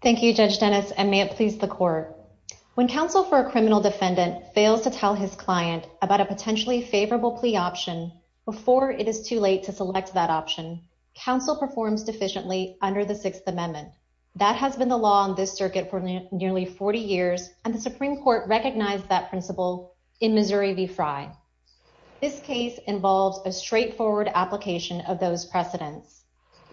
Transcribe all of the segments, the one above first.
Thank you Judge Dennis and may it please the court. When counsel for a criminal defendant fails to tell his client about a potentially favorable plea option before it is too late to select the appropriate plea option, the court may not be able to decide whether to proceed with the case or not. Counsel performs deficiently under the Sixth Amendment. That has been the law on this circuit for nearly 40 years and the Supreme Court recognized that principle in Missouri v. Frye. This case involves a straightforward application of those precedents.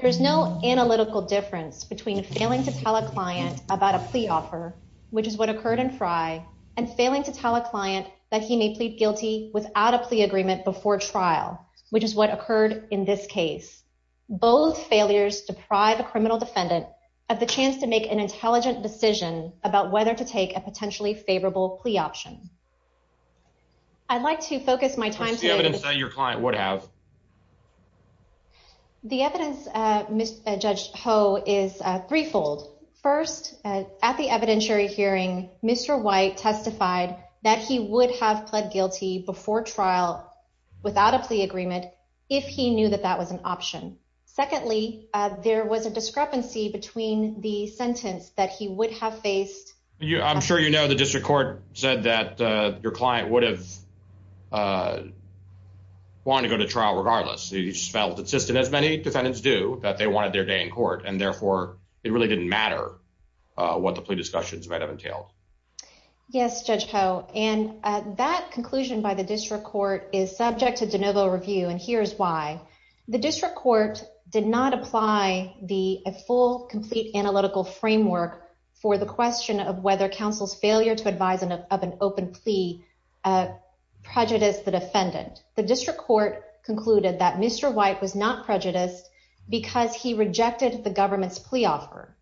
There's no analytical difference between failing to tell a client about a plea offer, which is what occurred in Frye, and failing to tell a client that he may plead guilty without a plea agreement before trial, which is what occurred in this case. Both failures deprive a criminal defendant of the chance to make an intelligent decision about whether to take a potentially favorable plea option. I'd like to focus my time to evidence that your client would have. The evidence Miss Judge Ho is threefold. First, at the evidentiary hearing, Mr. White testified that he would have pled guilty before trial without a plea agreement if he knew that that was an option. Secondly, there was a discrepancy between the sentence that he would have faced. I'm sure you know the district court said that your client would have wanted to go to trial regardless. He felt it's just as many defendants do that they wanted their day in court and therefore it really didn't matter what the plea discussions might have entailed. Yes, Judge Ho, and that conclusion by the district court is subject to de novo review, and here's why. The district court did not apply the full, complete analytical framework for the question of whether counsel's failure to advise of an open plea prejudiced the defendant. The district court concluded that Mr. White was not prejudiced because he rejected the government's plea offer.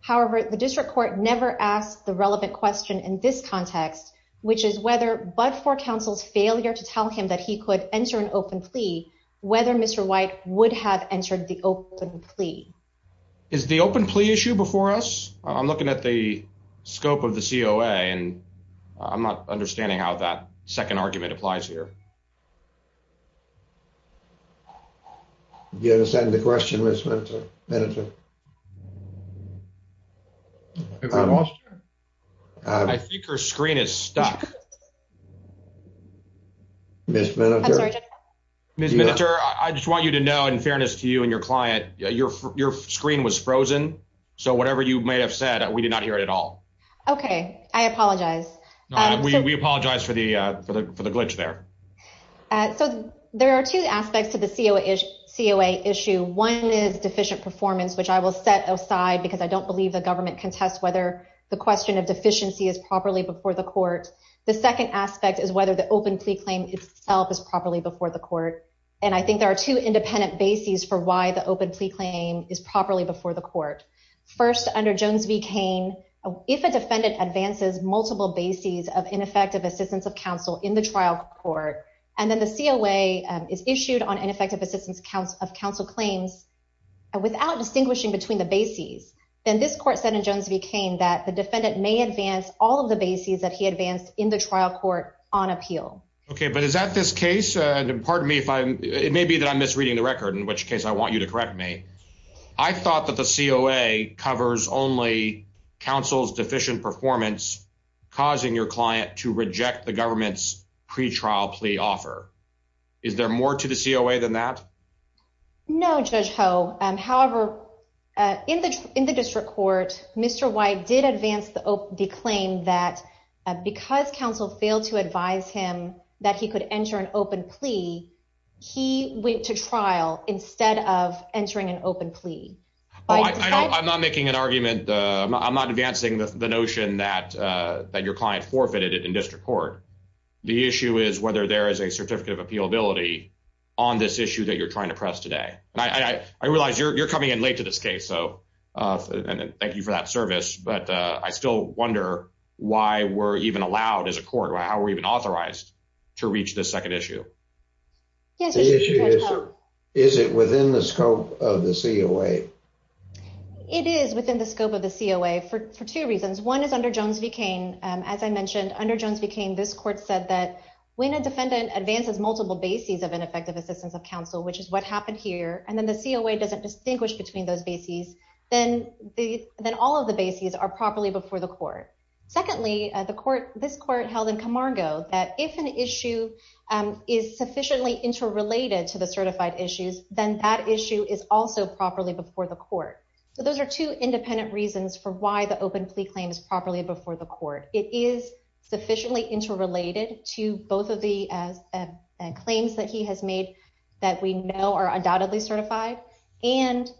However, the district court never asked the relevant question in this context, which is whether, but for counsel's failure to tell him that he could enter an open plea, whether Mr. White would have entered the open plea. Is the open plea issue before us? I'm looking at the scope of the COA and I'm not understanding how that second argument applies here. Do you have a second to question Ms. Minniter? I think her screen is stuck. Ms. Minniter, I just want you to know, in fairness to you and your client, your screen was frozen, so whatever you may have said, we did not hear it at all. Okay, I apologize. We apologize for the glitch there. So there are two aspects to the COA issue. One is deficient performance, which I will set aside because I don't believe the government can test whether the question of deficiency is properly before the court. The second aspect is whether the open plea claim itself is properly before the court. And I think there are two independent bases for why the open plea claim is properly before the court. First, under Jones v. Cain, if a defendant advances multiple bases of ineffective assistance of counsel in the trial court, and then the COA is issued on ineffective assistance of counsel claims without distinguishing between the bases, then this court said in Jones v. Cain that the defendant may advance all of the bases that he advanced in the trial court on appeal. Okay, but is that this case? And pardon me, it may be that I'm misreading the record, in which case I want you to correct me. I thought that the COA covers only counsel's deficient performance, causing your client to reject the government's pretrial plea offer. Is there more to the COA than that? No, Judge Ho. However, in the district court, Mr. White did advance the claim that because counsel failed to advise him that he could enter an open plea, he went to trial instead of entering an open plea. I'm not making an argument. I'm not advancing the notion that your client forfeited it in district court. The issue is whether there is a certificate of appealability on this issue that you're trying to press today. I realize you're coming in late to this case, so thank you for that service. But I still wonder why we're even allowed as a court, how we're even authorized to reach this second issue. The issue is, is it within the scope of the COA? It is within the scope of the COA for two reasons. One is under Jones v. Cain, as I mentioned, under Jones v. Cain, this court said that when a defendant advances multiple bases of ineffective assistance of counsel, which is what happened here, and then the COA doesn't distinguish between those bases, then all of the bases are properly before the court. Secondly, this court held in Camargo that if an issue is sufficiently interrelated to the certified issues, then that issue is also properly before the court. So those are two independent reasons for why the open plea claim is properly before the court. It is sufficiently interrelated to both of the claims that he has made that we know are undoubtedly certified. And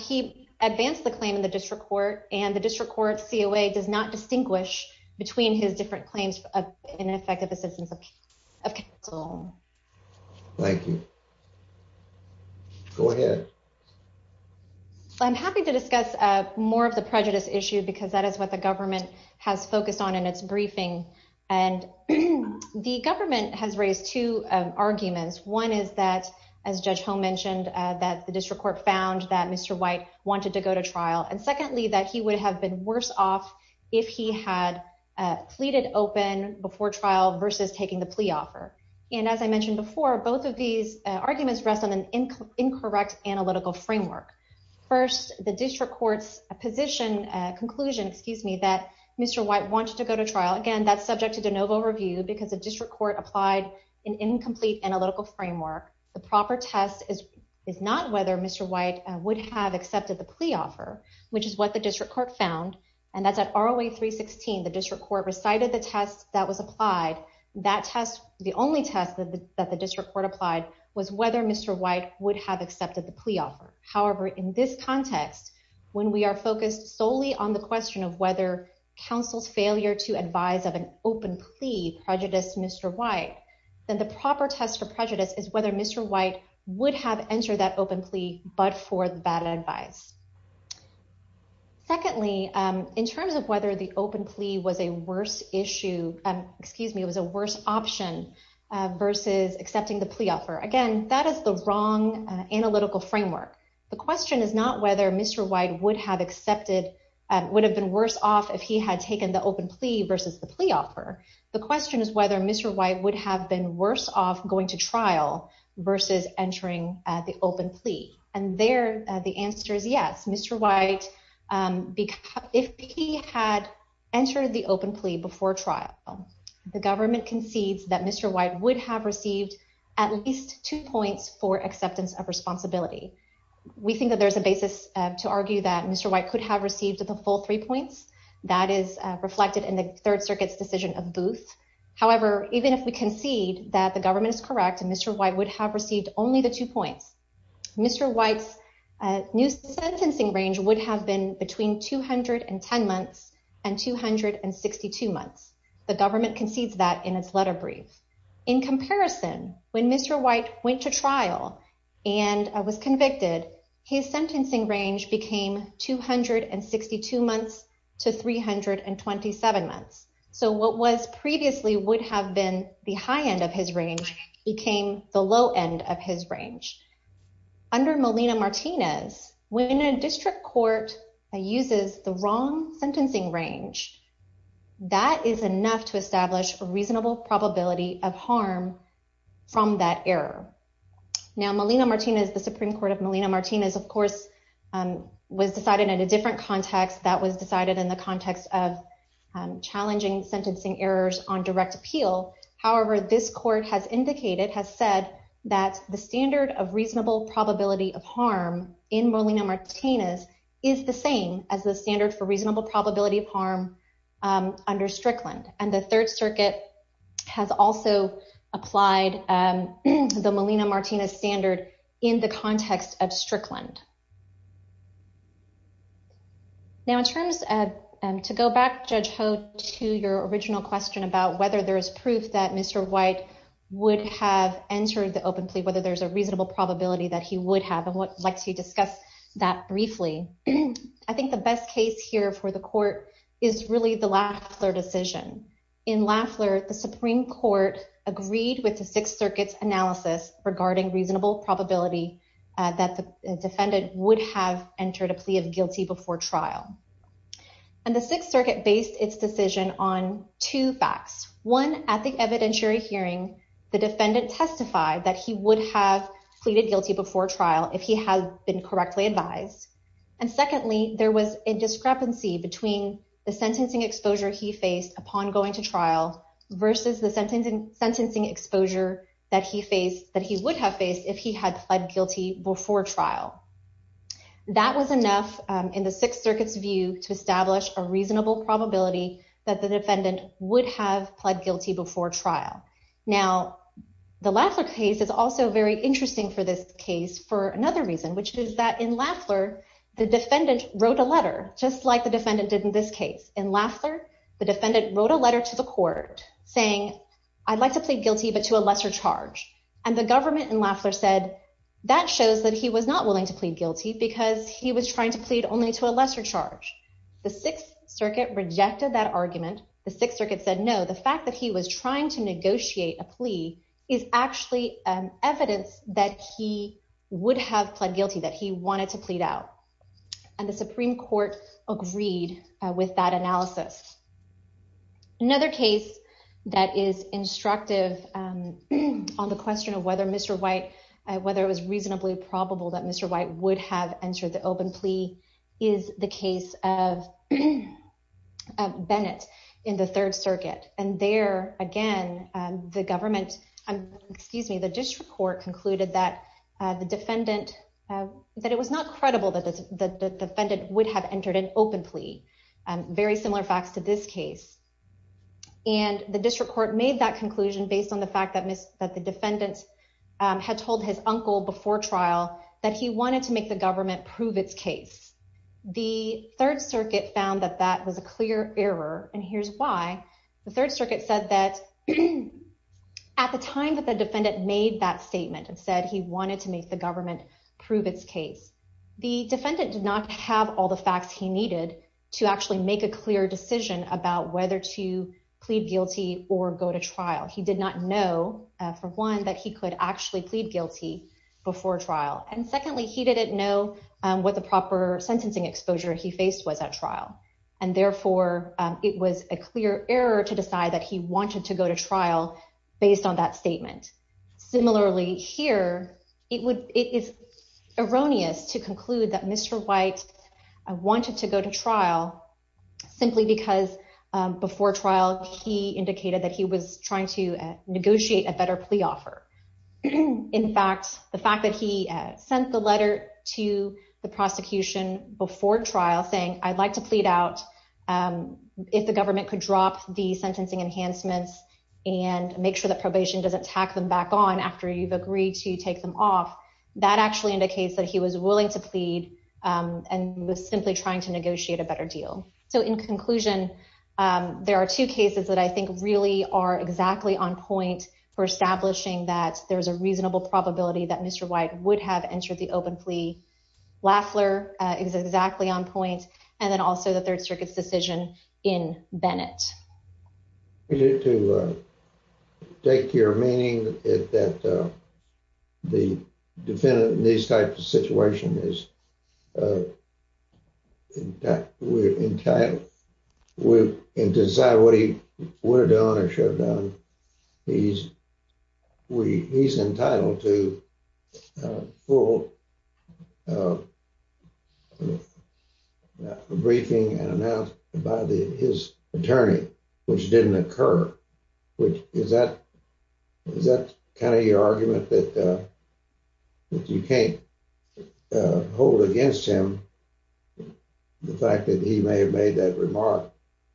he advanced the claim in the district court, and the district court COA does not distinguish between his different claims of ineffective assistance of counsel. Thank you. Go ahead. I'm happy to discuss more of the prejudice issue because that is what the government has focused on in its briefing. And the government has raised two arguments. One is that, as Judge Holm mentioned, that the district court found that Mr. White wanted to go to trial. And secondly, that he would have been worse off if he had pleaded open before trial versus taking the plea offer. And as I mentioned before, both of these arguments rest on an incorrect analytical framework. First, the district court's position, conclusion, excuse me, that Mr. White wanted to go to trial. Again, that's subject to de novo review because the district court applied an incomplete analytical framework. The proper test is not whether Mr. White would have accepted the plea offer, which is what the district court found. And that's at ROA 316. The district court recited the test that was applied. That test, the only test that the district court applied, was whether Mr. White would have accepted the plea offer. However, in this context, when we are focused solely on the question of whether counsel's failure to advise of an open plea prejudiced Mr. White, then the proper test for prejudice is whether Mr. White would have entered that open plea but for the bad advice. Secondly, in terms of whether the open plea was a worse issue, excuse me, was a worse option versus accepting the plea offer. Again, that is the wrong analytical framework. The question is not whether Mr. White would have accepted, would have been worse off if he had taken the open plea versus the plea offer. The question is whether Mr. White would have been worse off going to trial versus entering the open plea. And there, the answer is yes. Mr. White, if he had entered the open plea before trial, the government concedes that Mr. White would have received at least two points for acceptance of responsibility. We think that there's a basis to argue that Mr. White could have received the full three points. That is reflected in the Third Circuit's decision of Booth. However, even if we concede that the government is correct and Mr. White would have received only the two points, Mr. White's new sentencing range would have been between 210 months and 262 months. The government concedes that in its letter brief. In comparison, when Mr. White went to trial and was convicted, his sentencing range became 262 months to 327 months. So what was previously would have been the high end of his range became the low end of his range. Under Molina-Martinez, when a district court uses the wrong sentencing range, that is enough to establish a reasonable probability of harm from that error. Now, Molina-Martinez, the Supreme Court of Molina-Martinez, of course, was decided in a different context. That was decided in the context of challenging sentencing errors on direct appeal. However, this court has indicated, has said that the standard of reasonable probability of harm in Molina-Martinez is the same as the standard for reasonable probability of harm under Strickland. And the Third Circuit has also applied the Molina-Martinez standard in the context of Strickland. Now, in terms of to go back, Judge Ho, to your original question about whether there is proof that Mr. White would have entered the open plea, whether there's a reasonable probability that he would have and would like to discuss that briefly. I think the best case here for the court is really the Lafler decision. In Lafler, the Supreme Court agreed with the Sixth Circuit's analysis regarding reasonable probability that the defendant would have entered a plea of guilty before trial. And the Sixth Circuit based its decision on two facts. One, at the evidentiary hearing, the defendant testified that he would have pleaded guilty before trial if he had been correctly advised. And secondly, there was a discrepancy between the sentencing exposure he faced upon going to trial versus the sentencing exposure that he would have faced if he had pled guilty before trial. That was enough in the Sixth Circuit's view to establish a reasonable probability that the defendant would have pled guilty before trial. Now, the Lafler case is also very interesting for this case for another reason, which is that in Lafler, the defendant wrote a letter, just like the defendant did in this case. In Lafler, the defendant wrote a letter to the court saying, I'd like to plead guilty, but to a lesser charge. And the government in Lafler said that shows that he was not willing to plead guilty because he was trying to plead only to a lesser charge. The Sixth Circuit rejected that argument. The Sixth Circuit said, no, the fact that he was trying to negotiate a plea is actually evidence that he would have pled guilty, that he wanted to plead out. And the Supreme Court agreed with that analysis. Another case that is instructive on the question of whether Mr. White, whether it was reasonably probable that Mr. White would have entered the open plea is the case of Bennett in the Third Circuit. And there, again, the government, excuse me, the district court concluded that the defendant, that it was not credible that the defendant would have entered an open plea. Very similar facts to this case. And the district court made that conclusion based on the fact that the defendant had told his uncle before trial that he wanted to make the government prove its case. The Third Circuit found that that was a clear error, and here's why. The Third Circuit said that at the time that the defendant made that statement and said he wanted to make the government prove its case, the defendant did not have all the facts he needed to actually make a clear decision about whether to plead guilty or go to trial. He did not know, for one, that he could actually plead guilty before trial. And secondly, he didn't know what the proper sentencing exposure he faced was at trial. And therefore, it was a clear error to decide that he wanted to go to trial based on that statement. Similarly, here, it is erroneous to conclude that Mr. White wanted to go to trial simply because before trial he indicated that he was trying to negotiate a better plea offer. In fact, the fact that he sent the letter to the prosecution before trial saying, I'd like to plead out if the government could drop the sentencing enhancements and make sure that probation doesn't tack them back on after you've agreed to take them off, that actually indicates that he was willing to plead and was simply trying to negotiate a better deal. So in conclusion, there are two cases that I think really are exactly on point for establishing that there's a reasonable probability that Mr. White would have entered the open plea. Lafler is exactly on point. And then also the Third Circuit's decision in Bennett. To take your meaning that the defendant in these types of situations is entitled to decide what he would have done or should have done. He's entitled to full briefing and announced by his attorney, which didn't occur. Is that kind of your argument that you can't hold against him the fact that he may have made that remark?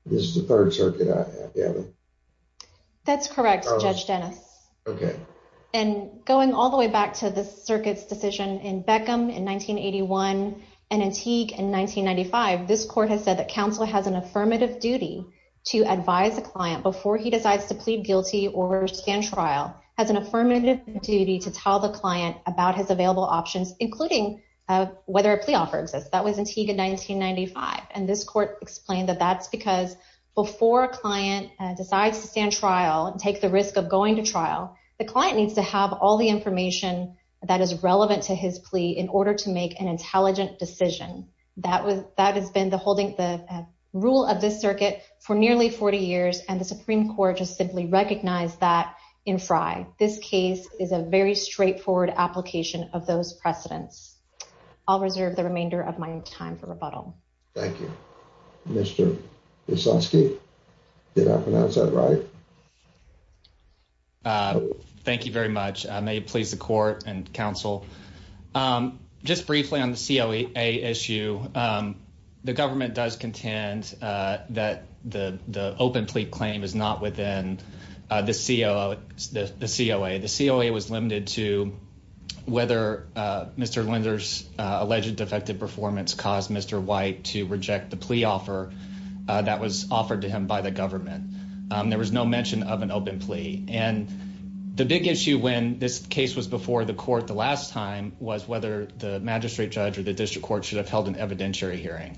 This is the Third Circuit, I gather. That's correct, Judge Dennis. And going all the way back to the Circuit's decision in Beckham in 1981 and Antigua in 1995, this court has said that counsel has an affirmative duty to advise the client before he decides to plead guilty or stand trial has an affirmative duty to tell the client about his available options, including whether a plea offer exists. That was Antigua in 1995. And this court explained that that's because before a client decides to stand trial and take the risk of going to trial, the client needs to have all the information that is relevant to his plea in order to make an intelligent decision. That has been the rule of this circuit for nearly 40 years. And the Supreme Court just simply recognized that in Frye. This case is a very straightforward application of those precedents. I'll reserve the remainder of my time for rebuttal. Thank you. Mr. Wisocki, did I pronounce that right? Thank you very much. May it please the court and counsel. Just briefly on the COA issue, the government does contend that the open plea claim is not within the COA. The COA was limited to whether Mr. Linder's alleged defective performance caused Mr. White to reject the plea offer that was offered to him by the government. There was no mention of an open plea. And the big issue when this case was before the court the last time was whether the magistrate judge or the district court should have held an evidentiary hearing.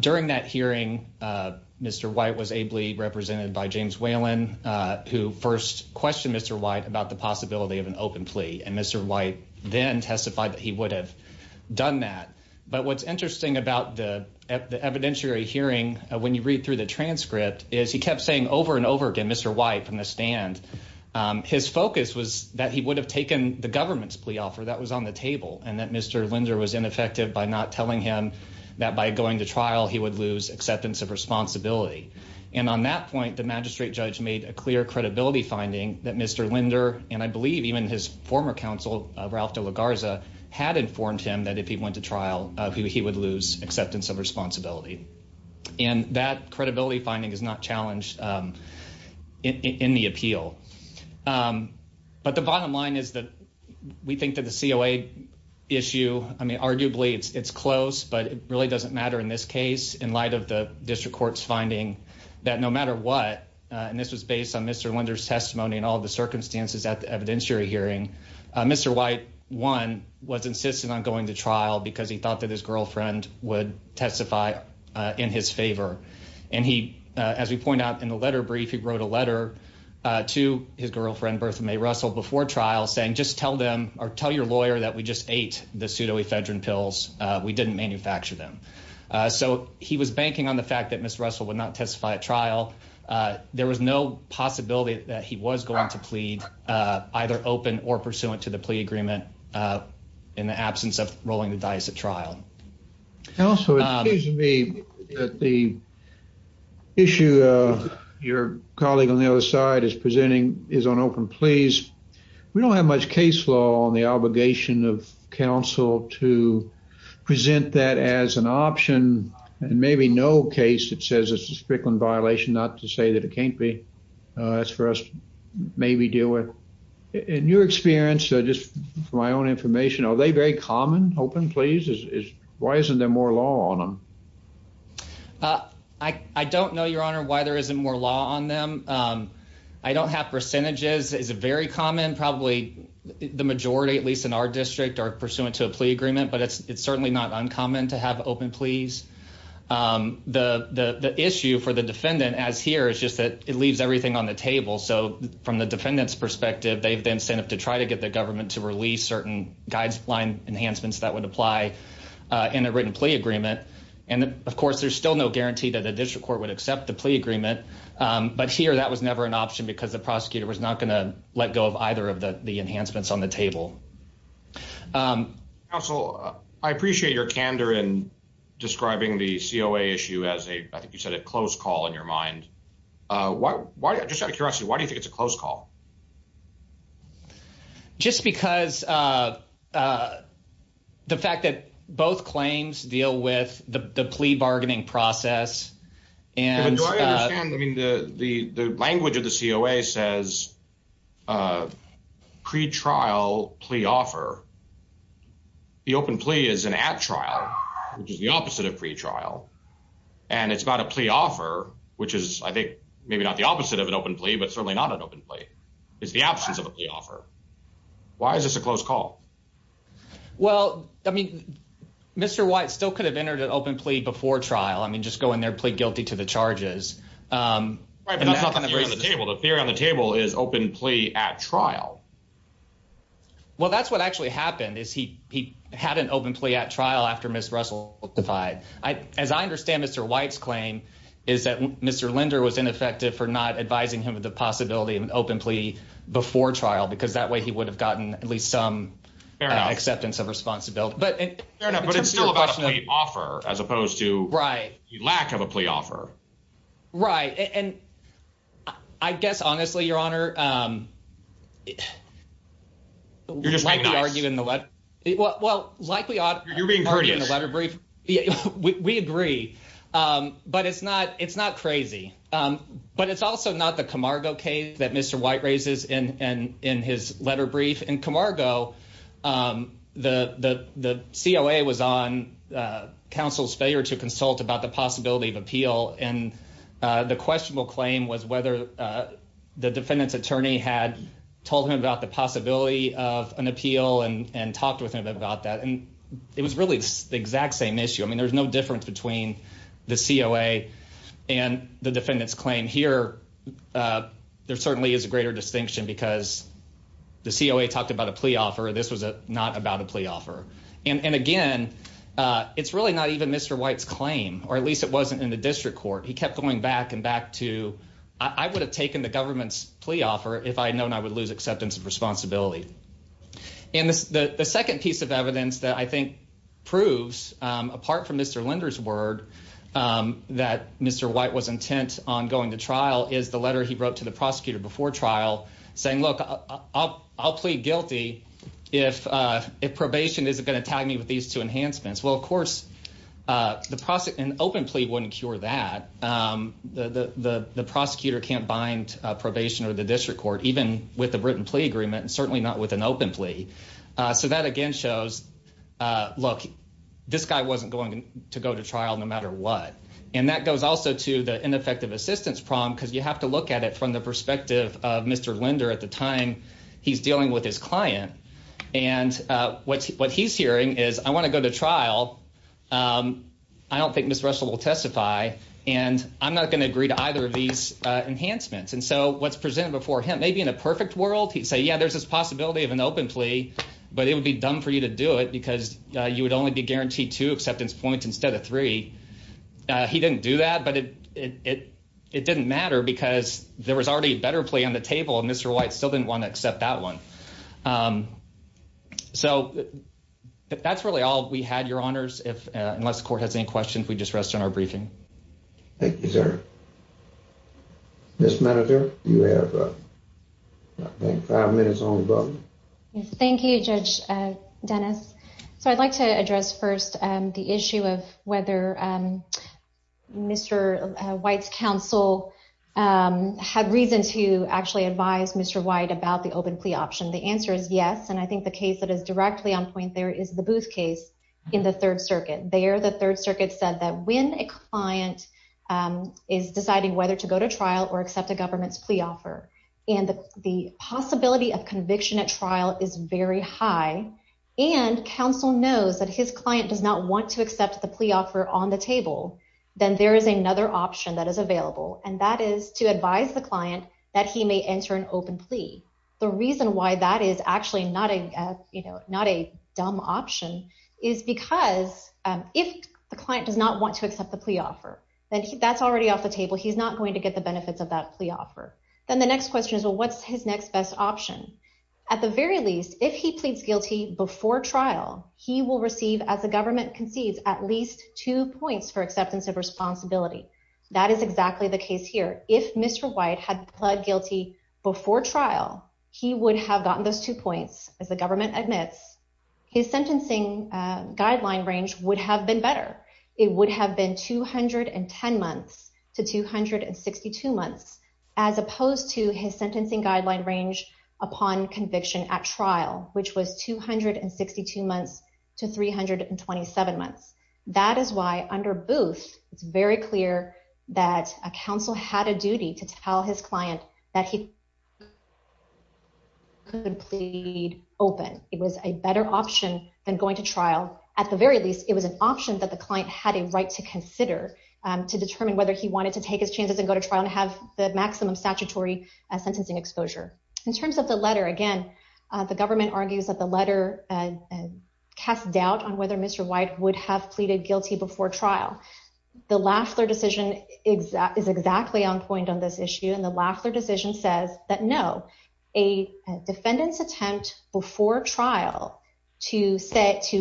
During that hearing, Mr. White was ably represented by James Whalen, who first questioned Mr. White about the possibility of an open plea. And Mr. White then testified that he would have done that. What's interesting about the evidentiary hearing, when you read through the transcript, is he kept saying over and over again, Mr. White, from the stand. His focus was that he would have taken the government's plea offer that was on the table and that Mr. Linder was ineffective by not telling him that by going to trial he would lose acceptance of responsibility. And on that point, the magistrate judge made a clear credibility finding that Mr. Linder, and I believe even his former counsel, Ralph De La Garza, had informed him that if he went to trial, he would lose acceptance of responsibility. And that credibility finding is not challenged in the appeal. But the bottom line is that we think that the COA issue, I mean, arguably it's close, but it really doesn't matter in this case in light of the district court's finding that no matter what, and this was based on Mr. Linder's testimony and all the circumstances at the evidentiary hearing, Mr. White, one, was insistent on going to trial because he thought that his girlfriend would testify in his favor. And he, as we point out in the letter brief, he wrote a letter to his girlfriend, Bertha Mae Russell, before trial saying, just tell them or tell your lawyer that we just ate the pseudoephedrine pills. We didn't manufacture them. So he was banking on the fact that Ms. Russell would not testify at trial. There was no possibility that he was going to plead either open or pursuant to the plea agreement in the absence of rolling the dice at trial. Counsel, it seems to me that the issue your colleague on the other side is presenting is on open pleas. We don't have much case law on the obligation of counsel to present that as an option. And maybe no case that says it's a strickland violation, not to say that it can't be. That's for us to maybe deal with. In your experience, just for my own information, are they very common, open pleas? Why isn't there more law on them? I don't know, Your Honor, why there isn't more law on them. I don't have percentages. It's very common. Probably the majority, at least in our district, are pursuant to a plea agreement, but it's certainly not uncommon to have open pleas. The issue for the defendant, as here, is just that it leaves everything on the table. So from the defendant's perspective, they have the incentive to try to get the government to release certain guideline enhancements that would apply in a written plea agreement. And of course, there's still no guarantee that the district court would accept the plea agreement. But here, that was never an option because the prosecutor was not going to let go of either of the enhancements on the table. Counsel, I appreciate your candor in describing the COA issue as a, I think you said a close call in your mind. Why, just out of curiosity, why do you think it's a close call? Just because the fact that both claims deal with the plea bargaining process. And do I understand, I mean, the language of the COA says pretrial plea offer. The open plea is an at trial, which is the opposite of pretrial. And it's not a plea offer, which is, I think, maybe not the opposite of an open plea, but certainly not an open plea. It's the absence of a plea offer. Why is this a close call? Well, I mean, Mr. White still could have entered an open plea before trial. I mean, just go in there and plead guilty to the charges. Right, but that's not the theory on the table. The theory on the table is open plea at trial. Well, that's what actually happened, is he had an open plea at trial after Ms. Russell testified. As I understand Mr. White's claim is that Mr. Linder was ineffective for not advising him of the possibility of an open plea before trial, because that way he would have gotten at least some acceptance of responsibility. Fair enough, but it's still about a plea offer, as opposed to the lack of a plea offer. Right. And I guess, honestly, Your Honor, You're just being nice. Well, like we argue in the letter brief, You're being courteous. We agree. But it's not crazy. But it's also not the Camargo case that Mr. White raises in his letter brief. In Camargo, the COA was on counsel's failure to consult about the possibility of appeal, and the questionable claim was whether the defendant's attorney had told him about the possibility of an appeal and talked with him about that. And it was really the exact same issue. I mean, there's no difference between the COA and the defendant's claim. Here, there certainly is a greater distinction, because the COA talked about a plea offer. This was not about a plea offer. And again, it's really not even Mr. White's claim, or at least it wasn't in the district court. He kept going back and back to, I would have taken the government's plea offer if I had known I would lose acceptance of responsibility. And the second piece of evidence that I think proves, apart from Mr. Linder's word, that Mr. White was intent on going to trial is the letter he wrote to the prosecutor before trial, saying, look, I'll plead guilty if probation isn't going to tag me with these two enhancements. Well, of course, an open plea wouldn't cure that. The prosecutor can't bind probation or the district court, even with the written plea agreement, and certainly not with an open plea. So that again shows, look, this guy wasn't going to go to trial no matter what. And that goes also to the ineffective assistance problem, because you have to look at it from the perspective of Mr. Linder at the time he's dealing with his client. And what he's hearing is, I want to go to trial. I don't think Ms. Russell will testify. And I'm not going to agree to either of these enhancements. And so what's presented before him, maybe in a perfect world, he'd say, yeah, there's this possibility of an open plea, but it would be dumb for you to do it because you would only be guaranteed two acceptance points instead of three. He didn't do that, but it didn't matter because there was already a better plea on the table, and Mr. White still didn't want to accept that one. So that's really all we had, Your Honors. Unless the court has any questions, we just rest on our briefing. Thank you, sir. Ms. Manninger, you have five minutes on the button. Thank you, Judge Dennis. So I'd like to address first the issue of whether Mr. White's counsel had reason to actually advise Mr. White about the open plea option. The answer is yes, and I think the case that is directly on point there is the Booth case in the Third Circuit. There, the Third Circuit said that when a client is deciding whether to go to trial or accept a government's plea offer and the possibility of conviction at trial is very high and counsel knows that his client does not want to accept the plea offer on the table, then there is another option that is available, and that is to advise the client that he may enter an open plea. The reason why that is actually not a dumb option is because if the client does not want to accept the plea offer, then that's already off the table. He's not going to get the benefits of that plea offer. Then the next question is, well, what's his next best option? At the very least, if he pleads guilty before trial, he will receive, as the government concedes, at least two points for acceptance of responsibility. That is exactly the case here. If Mr. White had pled guilty before trial, he would have gotten those two points, as the government admits. His sentencing guideline range would have been better. It would have been 210 months to 262 months, as opposed to his sentencing guideline range upon conviction at trial, which was 262 months to 327 months. That is why under Booth, it's very clear that a counsel had a duty to tell his client that he could plead open. It was a better option than going to trial. At the very least, it was an option that the client had a right to consider to determine whether he wanted to take his chances and go to trial and have the maximum statutory sentencing exposure. In terms of the letter, again, the government argues that the letter casts doubt on whether Mr. White would have pleaded guilty before trial. The Lafler decision is exactly on point on this issue. The Lafler decision says that no, a defendant's attempt before trial to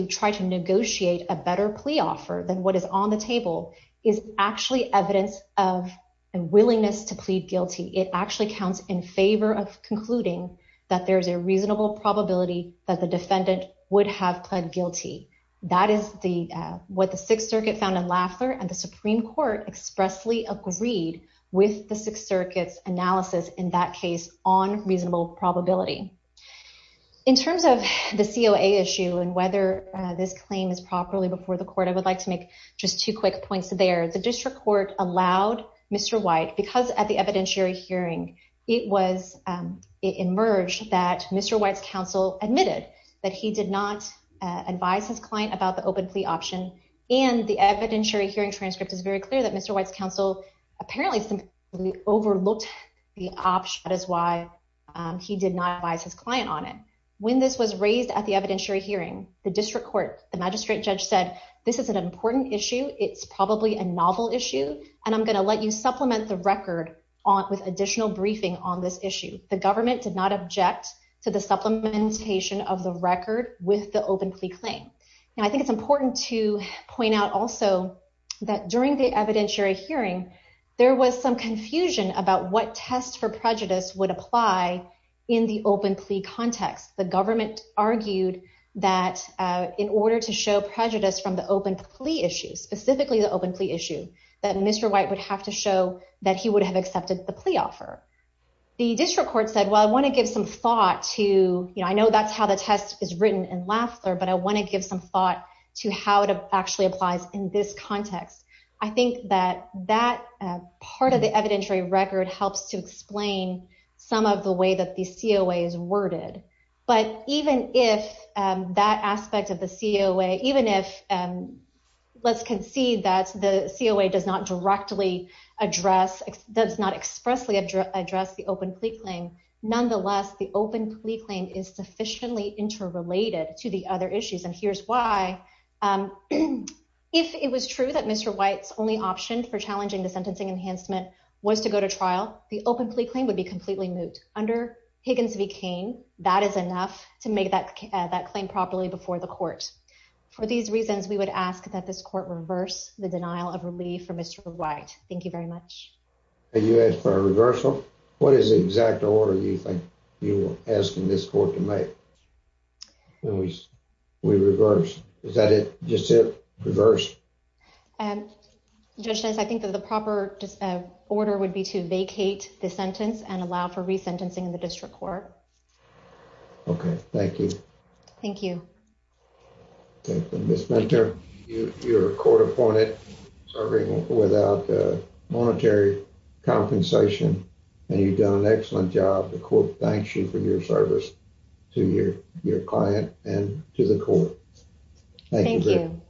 try to negotiate a better plea offer than what is on the table is actually evidence of a willingness to plead guilty. It actually counts in favor of concluding that there's a reasonable probability that the defendant would have pled guilty. That is what the Sixth Circuit found in Lafler when the Supreme Court expressly agreed with the Sixth Circuit's analysis in that case on reasonable probability. In terms of the COA issue and whether this claim is properly before the court, I would like to make just two quick points there. The district court allowed Mr. White because at the evidentiary hearing, it emerged that Mr. White's counsel admitted that he did not advise his client about the open plea option and the evidentiary hearing transcript is very clear that Mr. White's counsel apparently simply overlooked the option. That is why he did not advise his client on it. When this was raised at the evidentiary hearing, the district court, the magistrate judge said, this is an important issue. It's probably a novel issue, and I'm gonna let you supplement the record with additional briefing on this issue. The government did not object to the supplementation of the record with the open plea claim. And I think it's important to point out also that during the evidentiary hearing, there was some confusion about what test for prejudice would apply in the open plea context. The government argued that in order to show prejudice from the open plea issue, specifically the open plea issue, that Mr. White would have to show that he would have accepted the plea offer. The district court said, well, I wanna give some thought to, I know that's how the test is written in Lafler, but I wanna give some thought to how it actually applies in this context. I think that that part of the evidentiary record helps to explain some of the way that the COA is worded. But even if that aspect of the COA, even if let's concede that the COA does not directly address, does not expressly address the open plea claim, nonetheless, the open plea claim is sufficiently interrelated to the other issues. Which is why, if it was true that Mr. White's only option for challenging the sentencing enhancement was to go to trial, the open plea claim would be completely moot. Under Higgins v. Cain, that is enough to make that claim properly before the court. For these reasons, we would ask that this court reverse the denial of relief for Mr. White. Thank you very much. You asked for a reversal. What is the exact order you think you were asking this court to make? We reversed. Is that it? Just it? Reversed? Judge, I think that the proper order would be to vacate the sentence and allow for resentencing in the district court. Okay. Thank you. Thank you. Ms. Mentor, you're a court-appointed serving without monetary compensation, and you've done an excellent job. We thank you for your service to your client and to the court. Thank you.